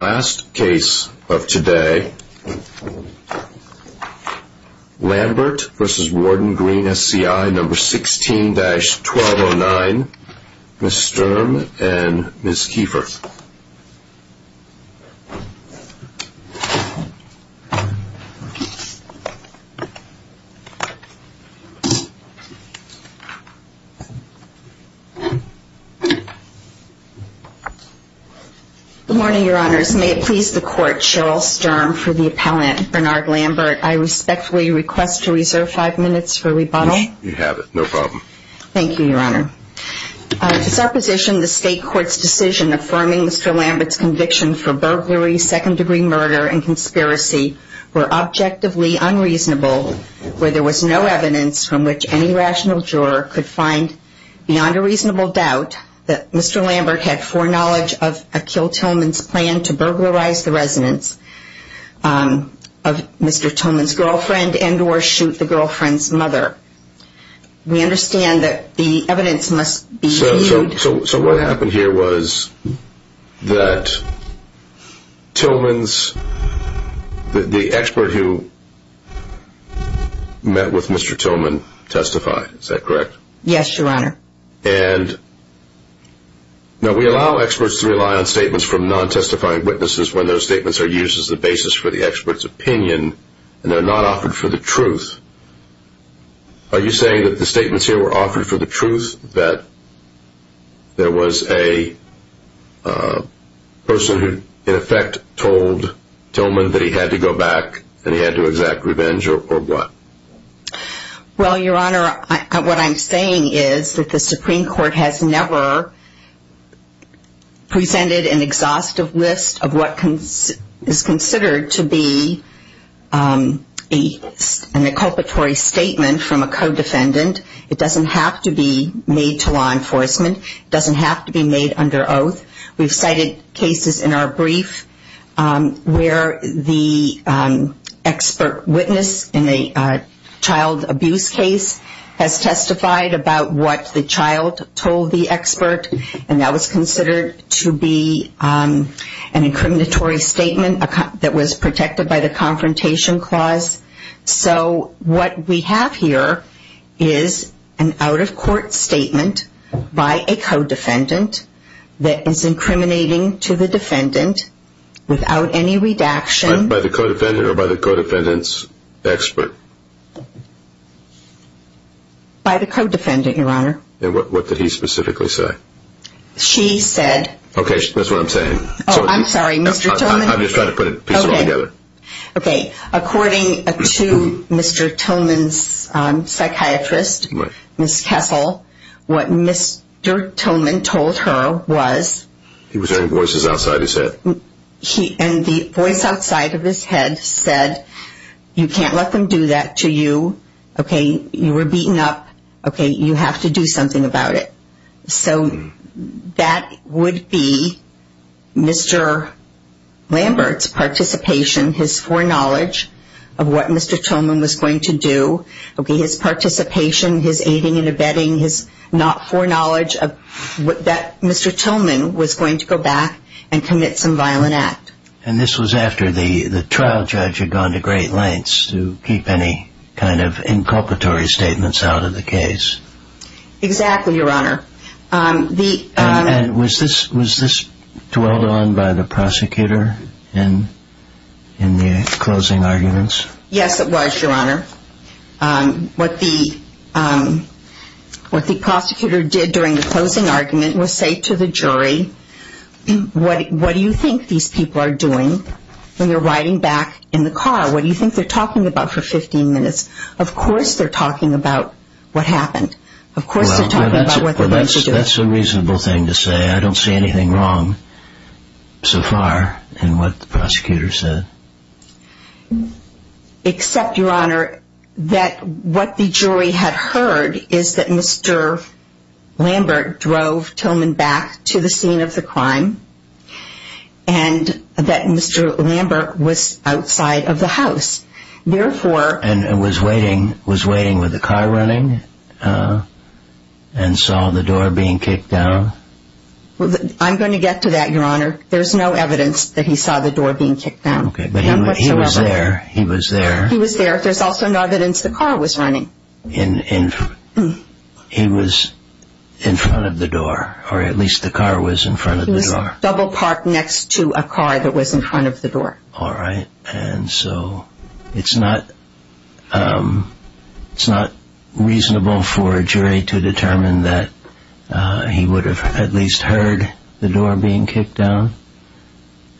Last case of today, Lambert v. Warden Green SCI No. 16-1209, Ms. Sturm and Ms. Kiefer. Good morning, your honors. May it please the court, Cheryl Sturm for the appellant, Bernard Lambert. I respectfully request to reserve five minutes for rebuttal. You have it, no problem. Thank you, your honor. To supposition the state court's decision affirming Mr. Lambert's conviction for burglary, second-degree murder, and conspiracy were objectively unreasonable, where there was no evidence from which any rational juror could find beyond a reasonable doubt that Mr. Lambert had foreknowledge of Akhil Tillman's plan to burglarize the residence of Mr. Tillman's girlfriend and or shoot the girlfriend's mother. We understand that the evidence must be viewed... So what happened here was that Tillman's... the expert who met with Mr. Tillman testified, is that correct? Yes, your honor. And now we allow experts to rely on statements from non-testifying witnesses when those statements are used as the basis for the expert's opinion and they're not offered for the truth. Are you saying that the statements here were offered for the truth that there was a person who in effect told Tillman that he had to go back and he had to exact revenge or what? Well, your honor, what I'm saying is that the Supreme Court has never presented an exhaustive list of what is considered to be an inculpatory statement from a co-defendant. It doesn't have to be made to law enforcement. It doesn't have to be made under oath. We've cited cases in our brief where the expert witness in a child abuse case has testified about what the child told the expert and that was considered to be an incriminatory statement that was protected by the confrontation clause. So what we have here is an out-of-court statement by a co-defendant that is incriminating to the defendant without any redaction... By the co-defendant or by the co-defendant's expert? By the co-defendant, your honor. And what did he specifically say? She said... Okay, that's what I'm saying. Oh, I'm sorry, Mr. Tillman... I'm just trying to put a piece of it together. Okay, according to Mr. Tillman's psychiatrist, Ms. Kessel, what Mr. Tillman told her was... He was hearing voices outside his head. And the voice outside of his head said, you can't let them do that to you. Okay, you were beaten up. Okay, you have to do something about it. So that would be Mr. Lambert's participation, his foreknowledge of what Mr. Tillman was going to do. Okay, his participation, his aiding and abetting, his foreknowledge that Mr. Tillman was going to go back and commit some violent act. And this was after the trial judge had gone to great lengths to keep any kind of inculpatory statements out of the case. Exactly, your honor. And was this dwelled on by the prosecutor in the closing arguments? Yes, it was, your honor. What the prosecutor did during the closing argument was say to the jury, what do you think these people are doing when you're riding back in the car? What do you think they're talking about for 15 minutes? Of course they're talking about what happened. That's a reasonable thing to say. I don't see anything wrong so far in what the prosecutor said. Except, your honor, that what the jury had heard is that Mr. Lambert drove Tillman back to the scene of the crime and that Mr. Lambert was outside of the house. And was waiting with the car running and saw the door being kicked down? I'm going to get to that, your honor. There's no evidence that he saw the door being kicked down. Okay, but he was there. He was there. There's also no evidence the car was running. He was in front of the door, or at least the car was in front of the door. All right. And so it's not reasonable for a jury to determine that he would have at least heard the door being kicked down?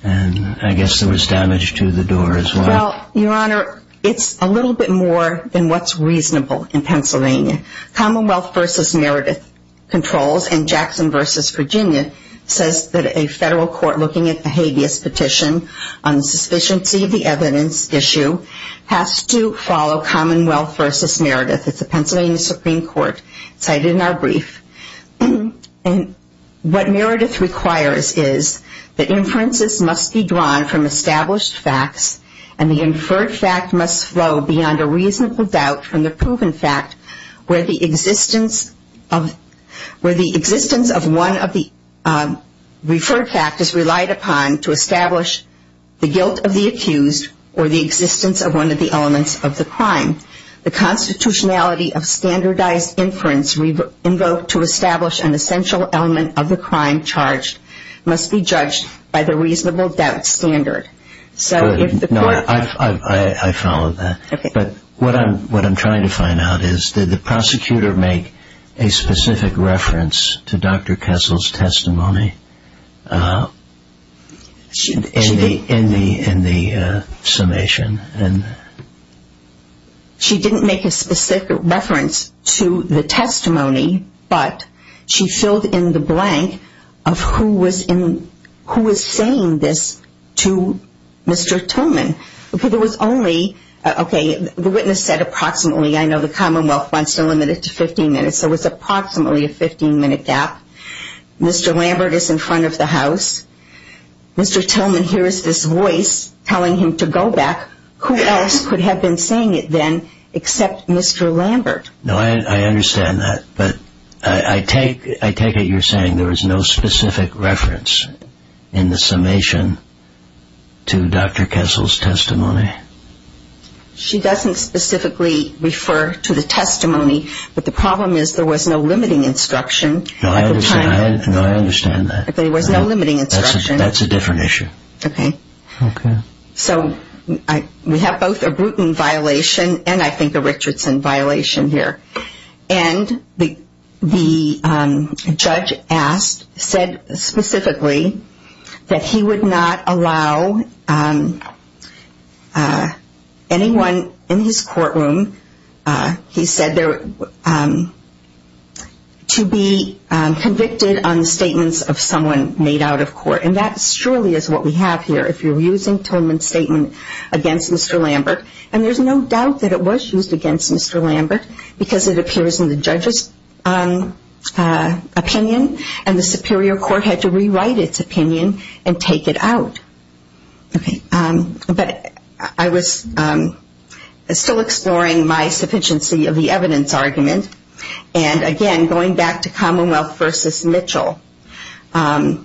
And I guess there was damage to the door as well. Well, your honor, it's a little bit more than what's reasonable in Pennsylvania. Commonwealth versus Meredith controls and Jackson versus Virginia says that a federal court looking at a habeas petition on the sufficiency of the evidence issue has to follow Commonwealth versus Meredith. It's a Pennsylvania Supreme Court cited in our brief. And what Meredith requires is that inferences must be drawn from established facts and the inferred fact must flow beyond a reasonable doubt from the proven fact where the existence of one of the referred factors relied upon to establish the guilt of the accused or the existence of one of the elements of the crime. The constitutionality of standardized inference invoked to establish an essential element of the crime charged must be judged by the reasonable doubt standard. No, I follow that. But what I'm trying to find out is did the prosecutor make a specific reference to Dr. Kessel's testimony in the summation? She didn't make a specific reference to the testimony, but she filled in the blank of who was saying this to Mr. Tillman. Because it was only, okay, the witness said approximately, I know the Commonwealth wants to limit it to 15 minutes, so it was approximately a 15-minute gap. Mr. Lambert is in front of the house. Mr. Tillman hears this voice telling him to go back. Who else could have been saying it then except Mr. Lambert? No, I understand that. But I take it you're saying there was no specific reference in the summation to Dr. Kessel's testimony. She doesn't specifically refer to the testimony, but the problem is there was no limiting instruction at the time. No, I understand that. There was no limiting instruction. That's a different issue. Okay. Okay. So we have both a Bruton violation and I think a Richardson violation here. And the judge said specifically that he would not allow anyone in his courtroom, he said, to be convicted on statements of someone made out of court. And that surely is what we have here. If you're using Tillman's statement against Mr. Lambert, and there's no doubt that it was used against Mr. Lambert because it appears in the judge's opinion and the superior court had to rewrite its opinion and take it out. Okay. But I was still exploring my sufficiency of the evidence argument. And, again, going back to Commonwealth v. Mitchell, the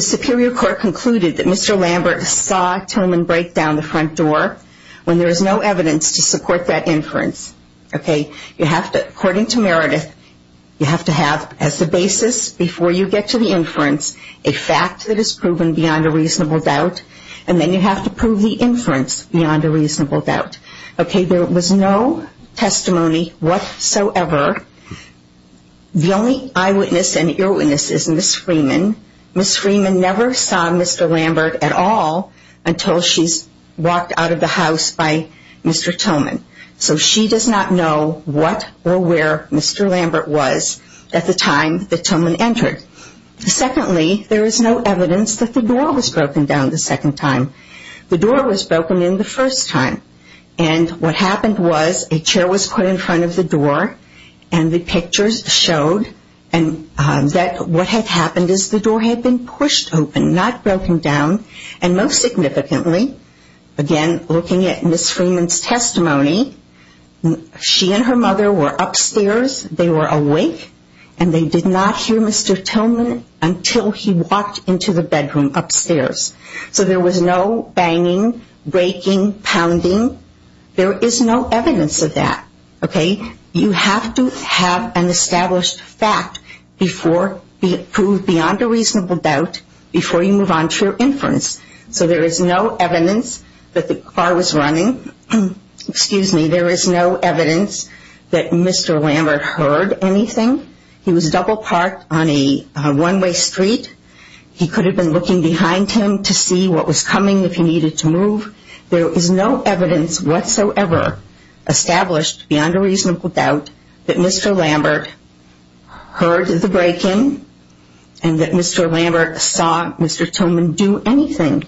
superior court concluded that Mr. Lambert saw Tillman break down the front door when there was no evidence to support that inference. Okay. According to Meredith, you have to have as the basis before you get to the inference, a fact that is proven beyond a reasonable doubt, and then you have to prove the inference beyond a reasonable doubt. Okay. There was no testimony whatsoever. The only eyewitness and earwitness is Ms. Freeman. Ms. Freeman never saw Mr. Lambert at all until she's walked out of the house by Mr. Tillman. So she does not know what or where Mr. Lambert was at the time that Tillman entered. Secondly, there is no evidence that the door was broken down the second time. The door was broken in the first time. And what happened was a chair was put in front of the door, and the pictures showed that what had happened is the door had been pushed open, not broken down. And most significantly, again, looking at Ms. Freeman's testimony, she and her mother were upstairs, they were awake, and they did not hear Mr. Tillman until he walked into the bedroom upstairs. So there was no banging, breaking, pounding. There is no evidence of that. Okay. You have to have an established fact before you prove beyond a reasonable doubt, before you move on to your inference. So there is no evidence that the car was running. Excuse me. There is no evidence that Mr. Lambert heard anything. He was double parked on a one-way street. He could have been looking behind him to see what was coming if he needed to move. There is no evidence whatsoever established beyond a reasonable doubt that Mr. Lambert heard the break-in and that Mr. Lambert saw Mr. Tillman do anything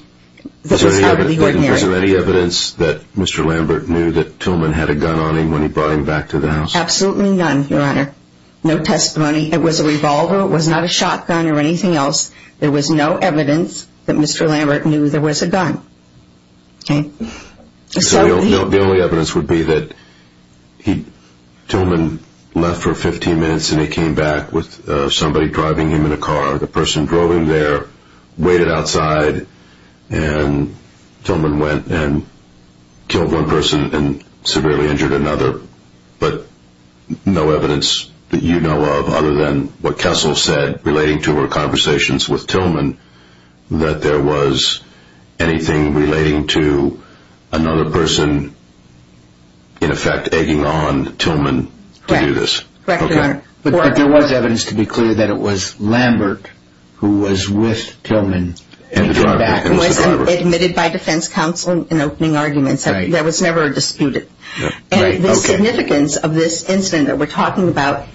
that was out of the ordinary. Is there any evidence that Mr. Lambert knew that Tillman had a gun on him when he brought him back to the house? Absolutely none, Your Honor. No testimony. It was a revolver. It was not a shotgun or anything else. There was no evidence that Mr. Lambert knew there was a gun. Okay. The only evidence would be that Tillman left for 15 minutes and he came back with somebody driving him in a car. The person drove him there, waited outside, and Tillman went and killed one person and severely injured another. But no evidence that you know of other than what Kessel said relating to her conversations with Tillman that there was anything relating to another person, in effect, egging on Tillman to do this? Correct. Correct, Your Honor. But there was evidence to be clear that it was Lambert who was with Tillman when he came back. It was admitted by defense counsel in opening arguments. There was never a dispute. And the significance of this incident that we're talking about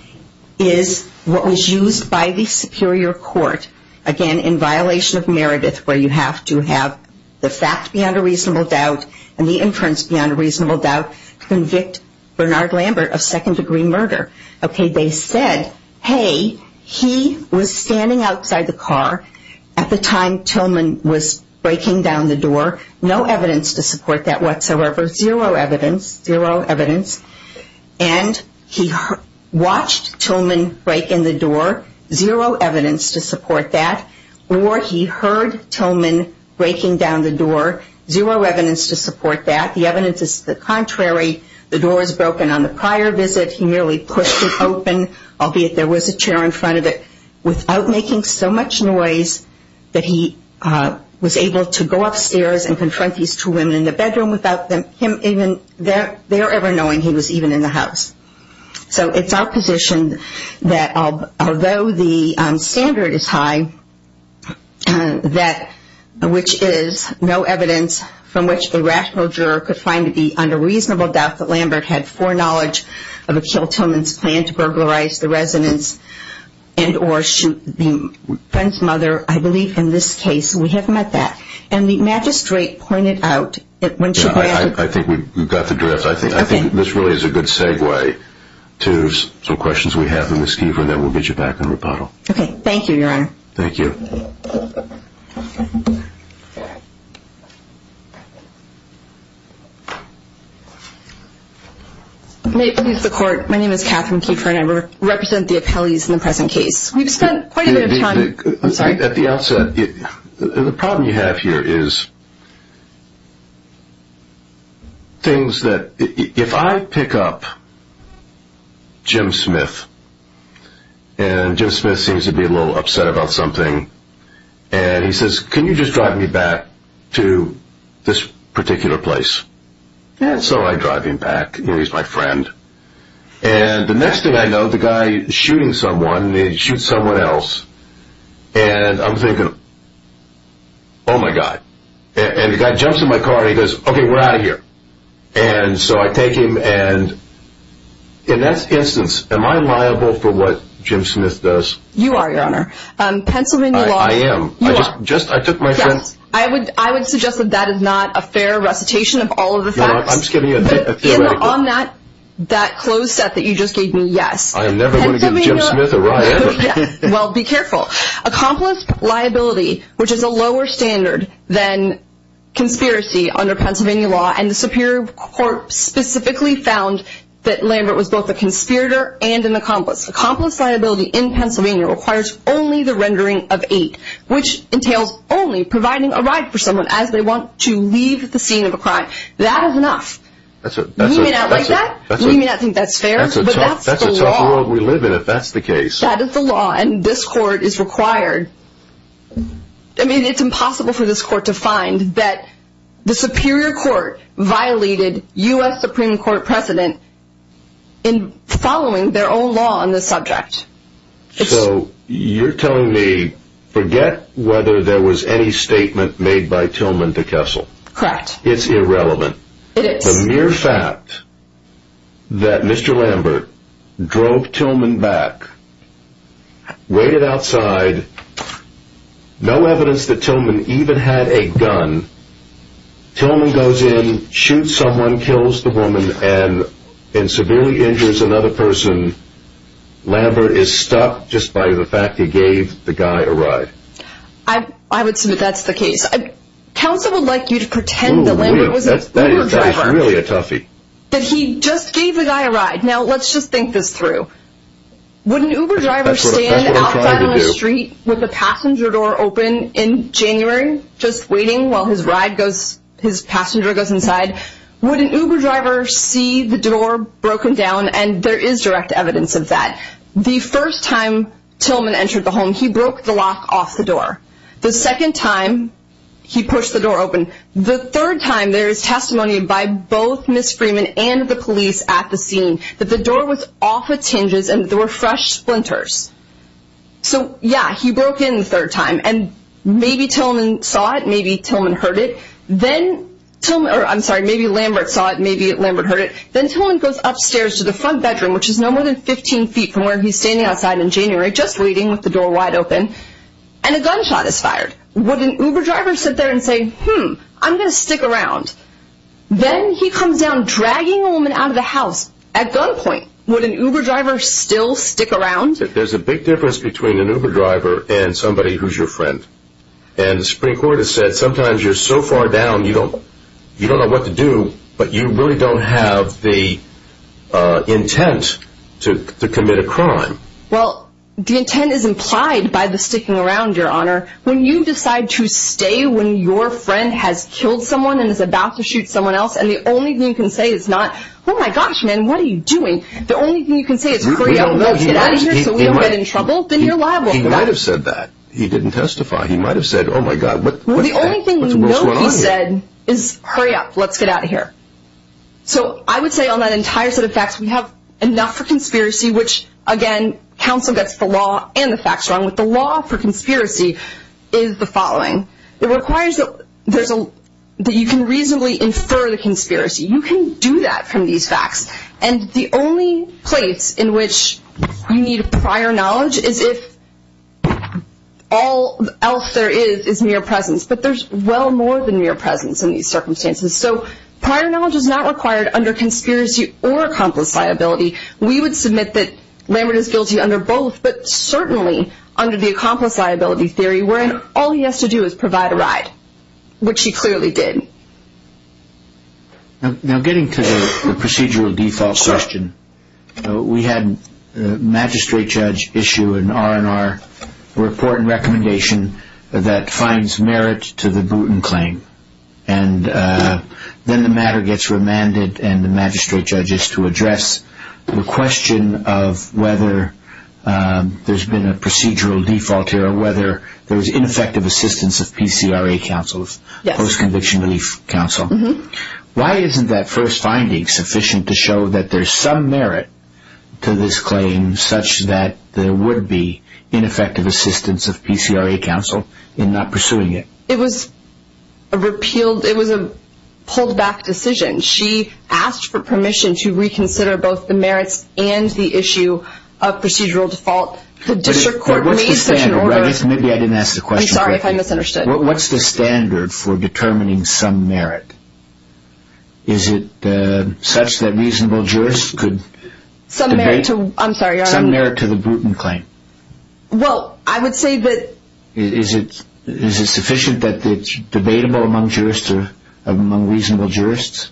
is what was used by the superior court, again in violation of Meredith where you have to have the fact beyond a reasonable doubt and the inference beyond a reasonable doubt to convict Bernard Lambert of second-degree murder. Okay, they said, hey, he was standing outside the car at the time Tillman was breaking down the door. No evidence to support that whatsoever. Zero evidence. Zero evidence. And he watched Tillman break in the door. Zero evidence to support that. Or he heard Tillman breaking down the door. Zero evidence to support that. The evidence is the contrary. The door was broken on the prior visit. He merely pushed it open, albeit there was a chair in front of it, without making so much noise that he was able to go upstairs and confront these two women in the bedroom without them ever knowing he was even in the house. So it's our position that although the standard is high, which is no evidence from which a rational juror could find to be under reasonable doubt that Lambert had foreknowledge of Achille Tillman's plan to burglarize the residence and or shoot the friend's mother, I believe in this case, we have met that. And the magistrate pointed out that when she brought up the... I think we've got the draft. Okay. I think this really is a good segue to some questions we have for Ms. Keefer and then we'll get you back in rebuttal. Okay. Thank you, Your Honor. Thank you. May it please the Court. My name is Catherine Keefer and I represent the appellees in the present case. We've spent quite a bit of time... At the outset, the problem you have here is things that... If I pick up Jim Smith and Jim Smith seems to be a little upset about something and he says, can you just drive me back to this particular place? And so I drive him back. You know, he's my friend. And the next thing I know, the guy is shooting someone. He shoots someone else. And I'm thinking, oh, my God. And the guy jumps in my car and he goes, okay, we're out of here. And so I take him and in that instance, am I liable for what Jim Smith does? You are, Your Honor. Pennsylvania law... I am. You are. I would suggest that that is not a fair recitation of all of the facts. I'm just giving you a theoretical. On that closed set that you just gave me, yes. I am never going to give Jim Smith a ride ever. Well, be careful. Accomplice liability, which is a lower standard than conspiracy under Pennsylvania law, and the Superior Court specifically found that Lambert was both a conspirator and an accomplice. Accomplice liability in Pennsylvania requires only the rendering of eight, which entails only providing a ride for someone as they want to leave the scene of a crime. That is enough. We may not like that. We may not think that's fair. But that's the law. That's a tough world we live in if that's the case. That is the law. And this Court is required. I mean, it's impossible for this Court to find that the Superior Court violated U.S. Supreme Court precedent in following their own law on this subject. So you're telling me forget whether there was any statement made by Tillman to Kessel. Correct. It's irrelevant. It is. The mere fact that Mr. Lambert drove Tillman back, waited outside, no evidence that Tillman even had a gun, Tillman goes in, shoots someone, kills the woman, and severely injures another person, Lambert is stuck just by the fact he gave the guy a ride. I would submit that's the case. Counsel would like you to pretend that Lambert was an Uber driver. That is really a toughie. That he just gave the guy a ride. Now, let's just think this through. Would an Uber driver stand outside on the street with the passenger door open in January, just waiting while his passenger goes inside? Would an Uber driver see the door broken down? And there is direct evidence of that. The first time Tillman entered the home, he broke the lock off the door. The second time, he pushed the door open. The third time, there is testimony by both Ms. Freeman and the police at the scene that the door was off of tinges and there were fresh splinters. So, yeah, he broke in the third time. And maybe Tillman saw it. Maybe Tillman heard it. Then, I'm sorry, maybe Lambert saw it. Maybe Lambert heard it. Then Tillman goes upstairs to the front bedroom, which is no more than 15 feet from where he's standing outside in January, just waiting with the door wide open, and a gunshot is fired. Would an Uber driver sit there and say, hmm, I'm going to stick around? Then he comes down dragging a woman out of the house at gunpoint. Would an Uber driver still stick around? There's a big difference between an Uber driver and somebody who's your friend. And the Supreme Court has said sometimes you're so far down you don't know what to do, but you really don't have the intent to commit a crime. Well, the intent is implied by the sticking around, Your Honor. When you decide to stay when your friend has killed someone and is about to shoot someone else, and the only thing you can say is not, oh, my gosh, man, what are you doing? The only thing you can say is, hurry up, let's get out of here so we don't get in trouble, then you're liable. He might have said that. He didn't testify. He might have said, oh, my God, what's that? The only thing you know he said is, hurry up, let's get out of here. So I would say on that entire set of facts, we have enough for conspiracy, which, again, counsel gets the law and the facts wrong. But the law for conspiracy is the following. It requires that you can reasonably infer the conspiracy. You can do that from these facts. And the only place in which you need prior knowledge is if all else there is is mere presence. But there's well more than mere presence in these circumstances. So prior knowledge is not required under conspiracy or accomplice liability. We would submit that Lambert is guilty under both, but certainly under the accomplice liability theory, wherein all he has to do is provide a ride, which he clearly did. Now getting to the procedural default question, we had a magistrate judge issue an R&R report and recommendation that finds merit to the Booten claim. And then the matter gets remanded and the magistrate judge is to address the question of whether there's been a procedural default here or whether there's ineffective assistance of PCRA counsel, post-conviction relief counsel. Why isn't that first finding sufficient to show that there's some merit to this claim such that there would be ineffective assistance of PCRA counsel in not pursuing it? It was a repealed, it was a pulled back decision. She asked for permission to reconsider both the merits and the issue of procedural default. The district court made such an order. Maybe I didn't ask the question correctly. I'm sorry if I misunderstood. What's the standard for determining some merit? Is it such that reasonable jurists could debate? Some merit to, I'm sorry, Your Honor. Some merit to the Booten claim. Well, I would say that. Is it sufficient that it's debatable among jurists or among reasonable jurists?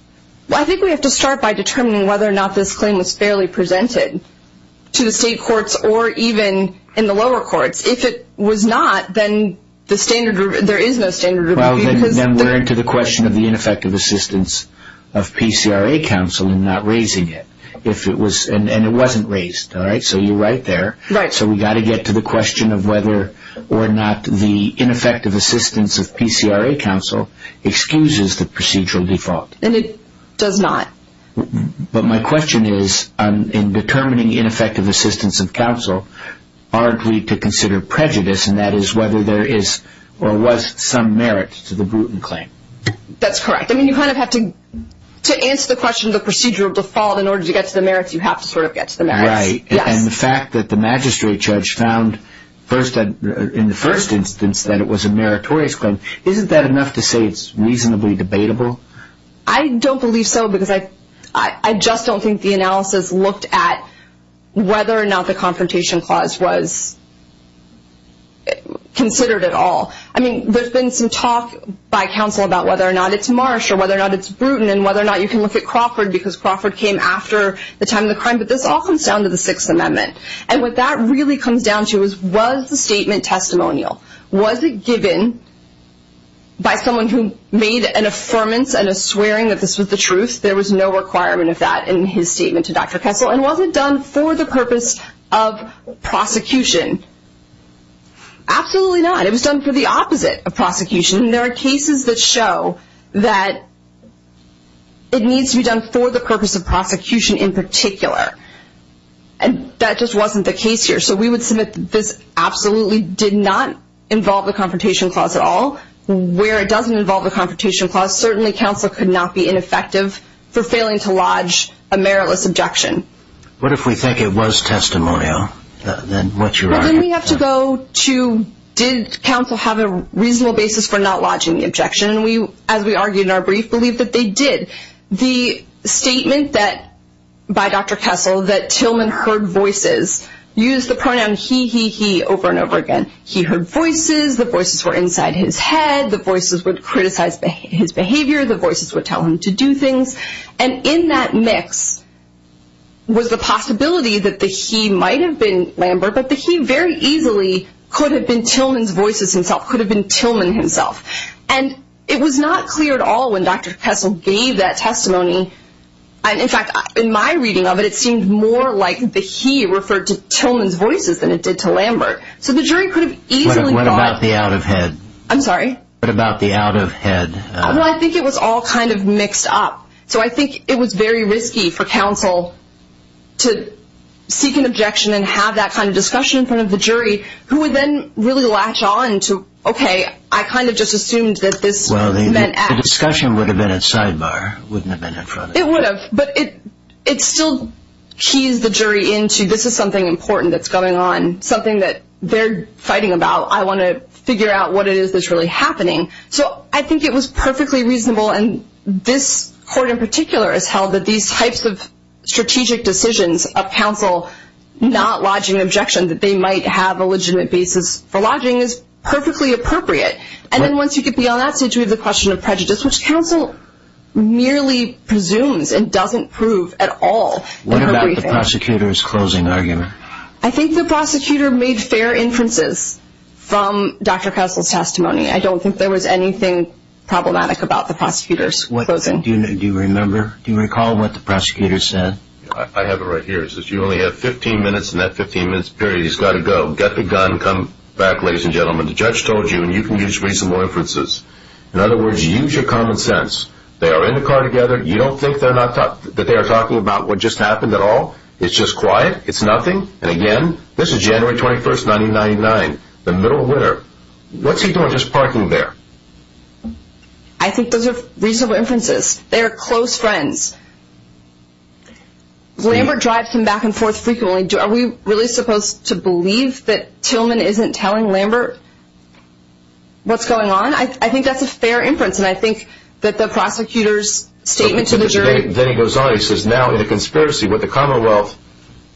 Well, I think we have to start by determining whether or not this claim was fairly presented to the state courts or even in the lower courts. If it was not, then there is no standard. Then we're into the question of the ineffective assistance of PCRA counsel in not raising it. And it wasn't raised, all right? So you're right there. Right. So we've got to get to the question of whether or not the ineffective assistance of PCRA counsel excuses the procedural default. And it does not. But my question is, in determining ineffective assistance of counsel, aren't we to consider prejudice, and that is whether there is or was some merit to the Booten claim? That's correct. I mean, you kind of have to answer the question of the procedural default. In order to get to the merits, you have to sort of get to the merits. Right. And the fact that the magistrate judge found in the first instance that it was a meritorious claim, isn't that enough to say it's reasonably debatable? I don't believe so because I just don't think the analysis looked at whether or not the confrontation clause was considered at all. I mean, there's been some talk by counsel about whether or not it's Marsh or whether or not it's Booten and whether or not you can look at Crawford because Crawford came after the time of the crime. But this all comes down to the Sixth Amendment. And what that really comes down to is, was the statement testimonial? Was it given by someone who made an affirmance and a swearing that this was the truth? There was no requirement of that in his statement to Dr. Kessel. And was it done for the purpose of prosecution? Absolutely not. It was done for the opposite of prosecution. There are cases that show that it needs to be done for the purpose of prosecution in particular. And that just wasn't the case here. So we would submit that this absolutely did not involve the confrontation clause at all. Where it doesn't involve the confrontation clause, certainly counsel could not be ineffective for failing to lodge a meritless objection. What if we think it was testimonial? Then we have to go to, did counsel have a reasonable basis for not lodging the objection? As we argued in our brief, we believe that they did. The statement by Dr. Kessel that Tillman heard voices used the pronoun he, he, he over and over again. He heard voices. The voices were inside his head. The voices would criticize his behavior. The voices would tell him to do things. And in that mix was the possibility that the he might have been Lambert, but the he very easily could have been Tillman's voices himself, could have been Tillman himself. And it was not clear at all when Dr. Kessel gave that testimony. In fact, in my reading of it, it seemed more like the he referred to Tillman's voices than it did to Lambert. So the jury could have easily thought. What about the out of head? I'm sorry? What about the out of head? Well, I think it was all kind of mixed up. So I think it was very risky for counsel to seek an objection and have that kind of discussion in front of the jury, who would then really latch on to, okay, I kind of just assumed that this meant. Well, the discussion would have been at sidebar, wouldn't have been in front of the jury. It would have, but it still keys the jury into this is something important that's going on, something that they're fighting about. I want to figure out what it is that's really happening. So I think it was perfectly reasonable, and this court in particular has held that these types of strategic decisions of counsel not lodging an objection, that they might have a legitimate basis for lodging, is perfectly appropriate. And then once you get beyond that stage, we have the question of prejudice, which counsel merely presumes and doesn't prove at all. What about the prosecutor's closing argument? I think the prosecutor made fair inferences from Dr. Kessel's testimony. I don't think there was anything problematic about the prosecutor's closing. Do you remember, do you recall what the prosecutor said? I have it right here. He says, you only have 15 minutes in that 15-minute period. He's got to go. Get the gun, come back, ladies and gentlemen. The judge told you, and you can use reasonable inferences. In other words, use your common sense. They are in the car together. You don't think that they are talking about what just happened at all? It's just quiet? It's nothing? And again, this is January 21, 1999, the middle of winter. What's he doing just parking there? I think those are reasonable inferences. They are close friends. Lambert drives him back and forth frequently. Are we really supposed to believe that Tillman isn't telling Lambert what's going on? I think that's a fair inference, and I think that the prosecutor's statement to the jury. Then he goes on. He says, now in the conspiracy, what the Commonwealth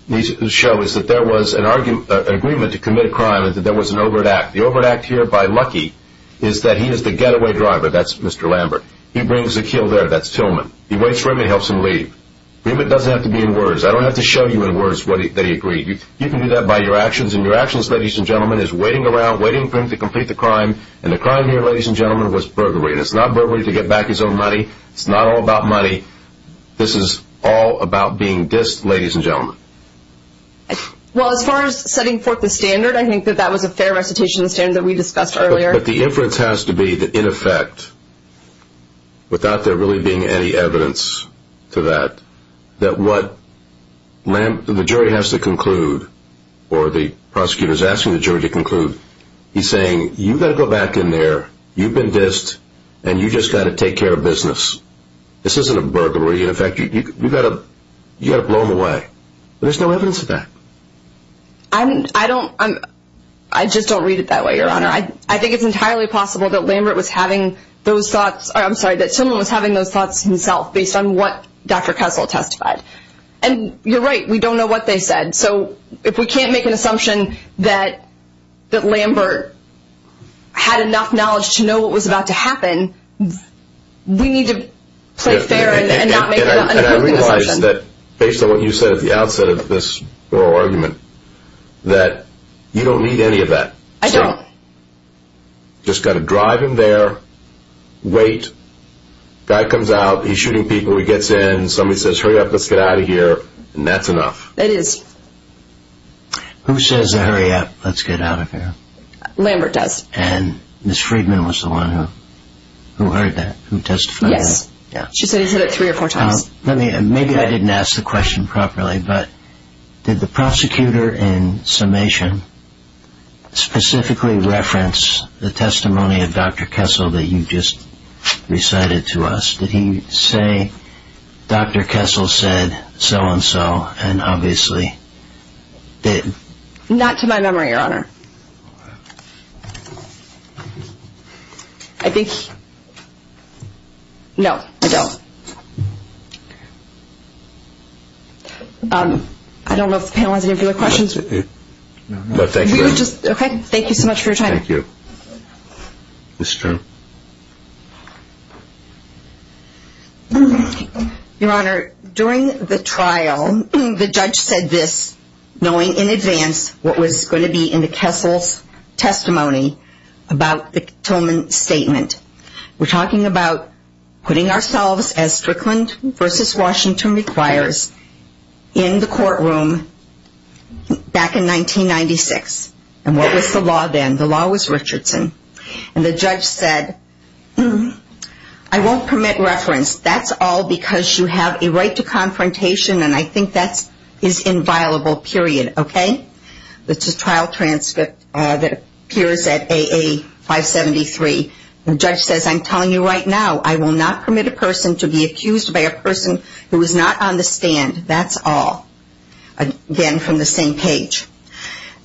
needs to show is that there was an agreement to commit a crime and that there was an overt act. The overt act here by Lucky is that he is the getaway driver. That's Mr. Lambert. He brings a kill there. That's Tillman. He waits for him and helps him leave. The agreement doesn't have to be in words. I don't have to show you in words that he agreed. You can do that by your actions, and your actions, ladies and gentlemen, is waiting around, waiting for him to complete the crime, and the crime here, ladies and gentlemen, was burglary. And it's not burglary to get back his own money. It's not all about money. This is all about being dissed, ladies and gentlemen. Well, as far as setting forth the standard, I think that that was a fair recitation of the standard that we discussed earlier. But the inference has to be that, in effect, without there really being any evidence to that, that what the jury has to conclude, or the prosecutor's asking the jury to conclude, he's saying, you've got to go back in there, you've been dissed, and you've just got to take care of business. This isn't a burglary. In effect, you've got to blow him away. But there's no evidence of that. I just don't read it that way, Your Honor. I think it's entirely possible that Lambert was having those thoughts. I'm sorry, that someone was having those thoughts himself, based on what Dr. Kessel testified. And you're right, we don't know what they said. So if we can't make an assumption that Lambert had enough knowledge to know what was about to happen, we need to play fair and not make an unimportant assumption. And I realize that, based on what you said at the outset of this oral argument, that you don't need any of that. I don't. Just got to drive him there, wait, guy comes out, he's shooting people, he gets in, somebody says, hurry up, let's get out of here, and that's enough. It is. Who says, hurry up, let's get out of here? Lambert does. And Ms. Friedman was the one who heard that, who testified. Yes. She said he said it three or four times. Maybe I didn't ask the question properly, but did the prosecutor in summation specifically reference the testimony of Dr. Kessel that you just recited to us? Did he say, Dr. Kessel said so-and-so, and obviously did? Not to my memory, Your Honor. I think he – no, I don't. I don't know if the panel has any other questions. No, thank you. Okay, thank you so much for your time. Thank you. Ms. Stern. Your Honor, during the trial, the judge said this, knowing in advance what was going to be in the Kessel's testimony about the Tillman statement. We're talking about putting ourselves, as Strickland v. Washington requires, in the courtroom back in 1996. And what was the law then? The law was Richardson. And the judge said, I won't permit reference. That's all because you have a right to confrontation, and I think that is inviolable, period. Okay? It's a trial transcript that appears at AA-573. The judge says, I'm telling you right now, I will not permit a person to be accused by a person who is not on the stand. That's all. Again, from the same page.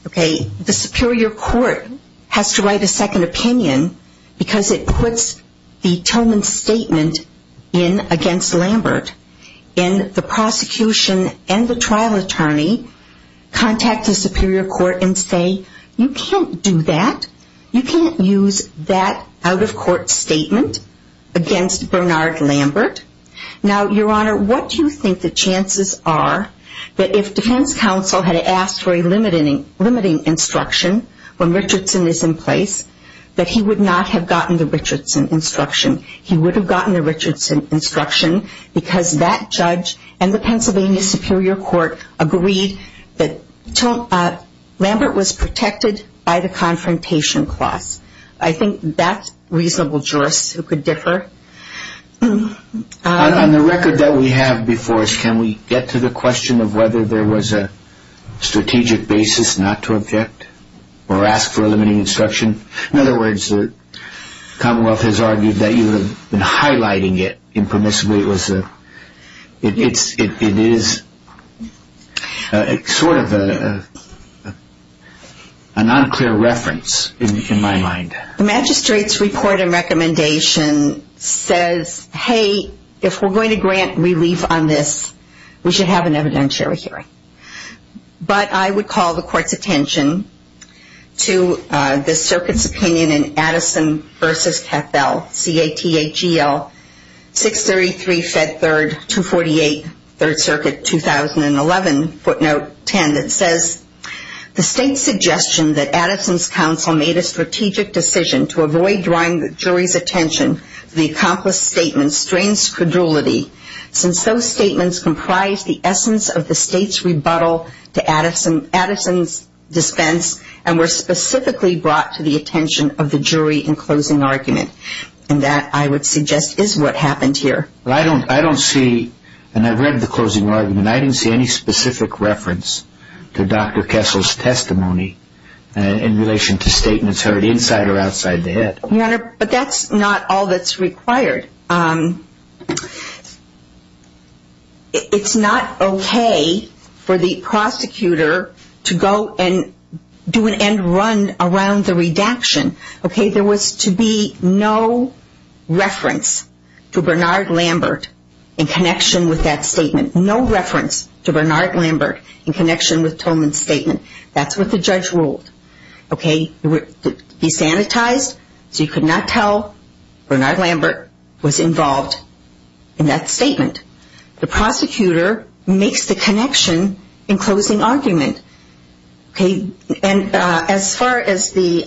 Okay, the superior court has to write a second opinion because it puts the Tillman statement in against Lambert. And the prosecution and the trial attorney contact the superior court and say, you can't do that. You can't use that out-of-court statement against Bernard Lambert. Now, Your Honor, what do you think the chances are that if defense counsel had asked for a limiting instruction when Richardson is in place, that he would not have gotten the Richardson instruction? He would have gotten the Richardson instruction because that judge and the Pennsylvania superior court agreed that Lambert was protected by the confrontation clause. I think that's reasonable jurists who could differ. On the record that we have before us, can we get to the question of whether there was a strategic basis not to object or ask for a limiting instruction? In other words, the Commonwealth has argued that you have been highlighting it impermissibly. It is sort of an unclear reference in my mind. The magistrate's report and recommendation says, hey, if we're going to grant relief on this, we should have an evidentiary hearing. But I would call the court's attention to the circuit's opinion in Addison v. Cattell, C-A-T-T-H-E-L, 633 Fed 3rd, 248, 3rd Circuit, 2011, footnote 10. It says, the state's suggestion that Addison's counsel made a strategic decision to avoid drawing the jury's attention to the accomplice statement strains credulity since those statements comprise the essence of the state's rebuttal to Addison's dispense and were specifically brought to the attention of the jury in closing argument. And that, I would suggest, is what happened here. I don't see, and I've read the closing argument, I didn't see any specific reference to Dr. Kessel's testimony in relation to statements heard inside or outside the head. But that's not all that's required. It's not okay for the prosecutor to go and do an end run around the redaction. There was to be no reference to Bernard Lambert in connection with that statement. No reference to Bernard Lambert in connection with Tolman's statement. That's what the judge ruled. It would be sanitized so you could not tell Bernard Lambert was involved in that statement. The prosecutor makes the connection in closing argument. And as far as the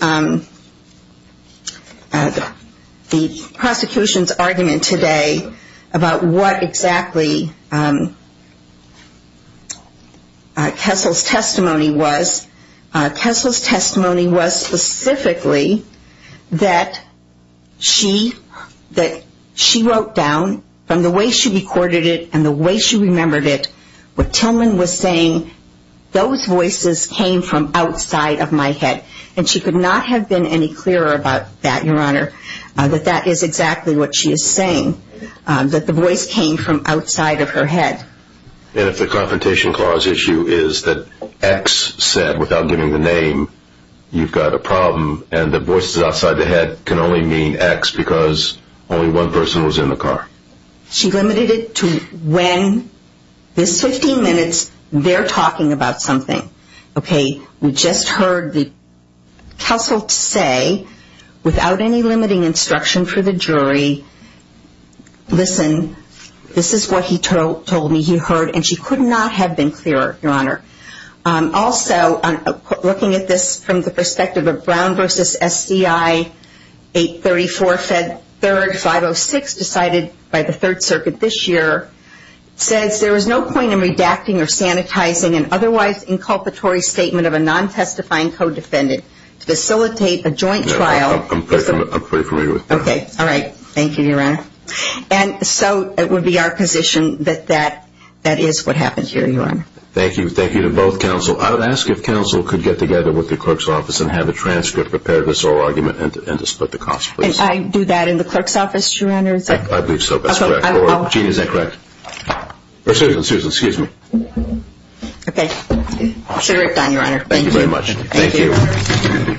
prosecution's argument today about what exactly Kessel's testimony was specifically, that she wrote down from the way she recorded it and the way she remembered it, what Tolman was saying, those voices came from outside of my head. And she could not have been any clearer about that, Your Honor, that that is exactly what she is saying, that the voice came from outside of her head. And if the Confrontation Clause issue is that X said, without giving the name, you've got a problem and the voices outside the head can only mean X because only one person was in the car. She limited it to when, this 15 minutes, they're talking about something. Okay, we just heard Kessel say, without any limiting instruction for the jury, listen, this is what he told me he heard. And she could not have been clearer, Your Honor. Also, looking at this from the perspective of Brown v. SCI, 834, Fed 3rd, 506, decided by the Third Circuit this year, says there is no point in redacting or sanitizing an otherwise inculpatory statement of a non-testifying co-defendant to facilitate a joint trial. I'm pretty familiar with that. Okay. All right. Thank you, Your Honor. And so it would be our position that that is what happened here, Your Honor. Thank you. Thank you to both counsel. I would ask if counsel could get together with the clerk's office and have a transcript prepared of this whole argument and to split the cost, please. And I do that in the clerk's office, Your Honor? I believe so. That's correct. Or, Jeanne, is that correct? Or Susan, Susan, excuse me. I should have ripped on you, Your Honor. Thank you very much. Thank you. Thank you. Ms. Bride, please stand adjourned until 2 PM tonight.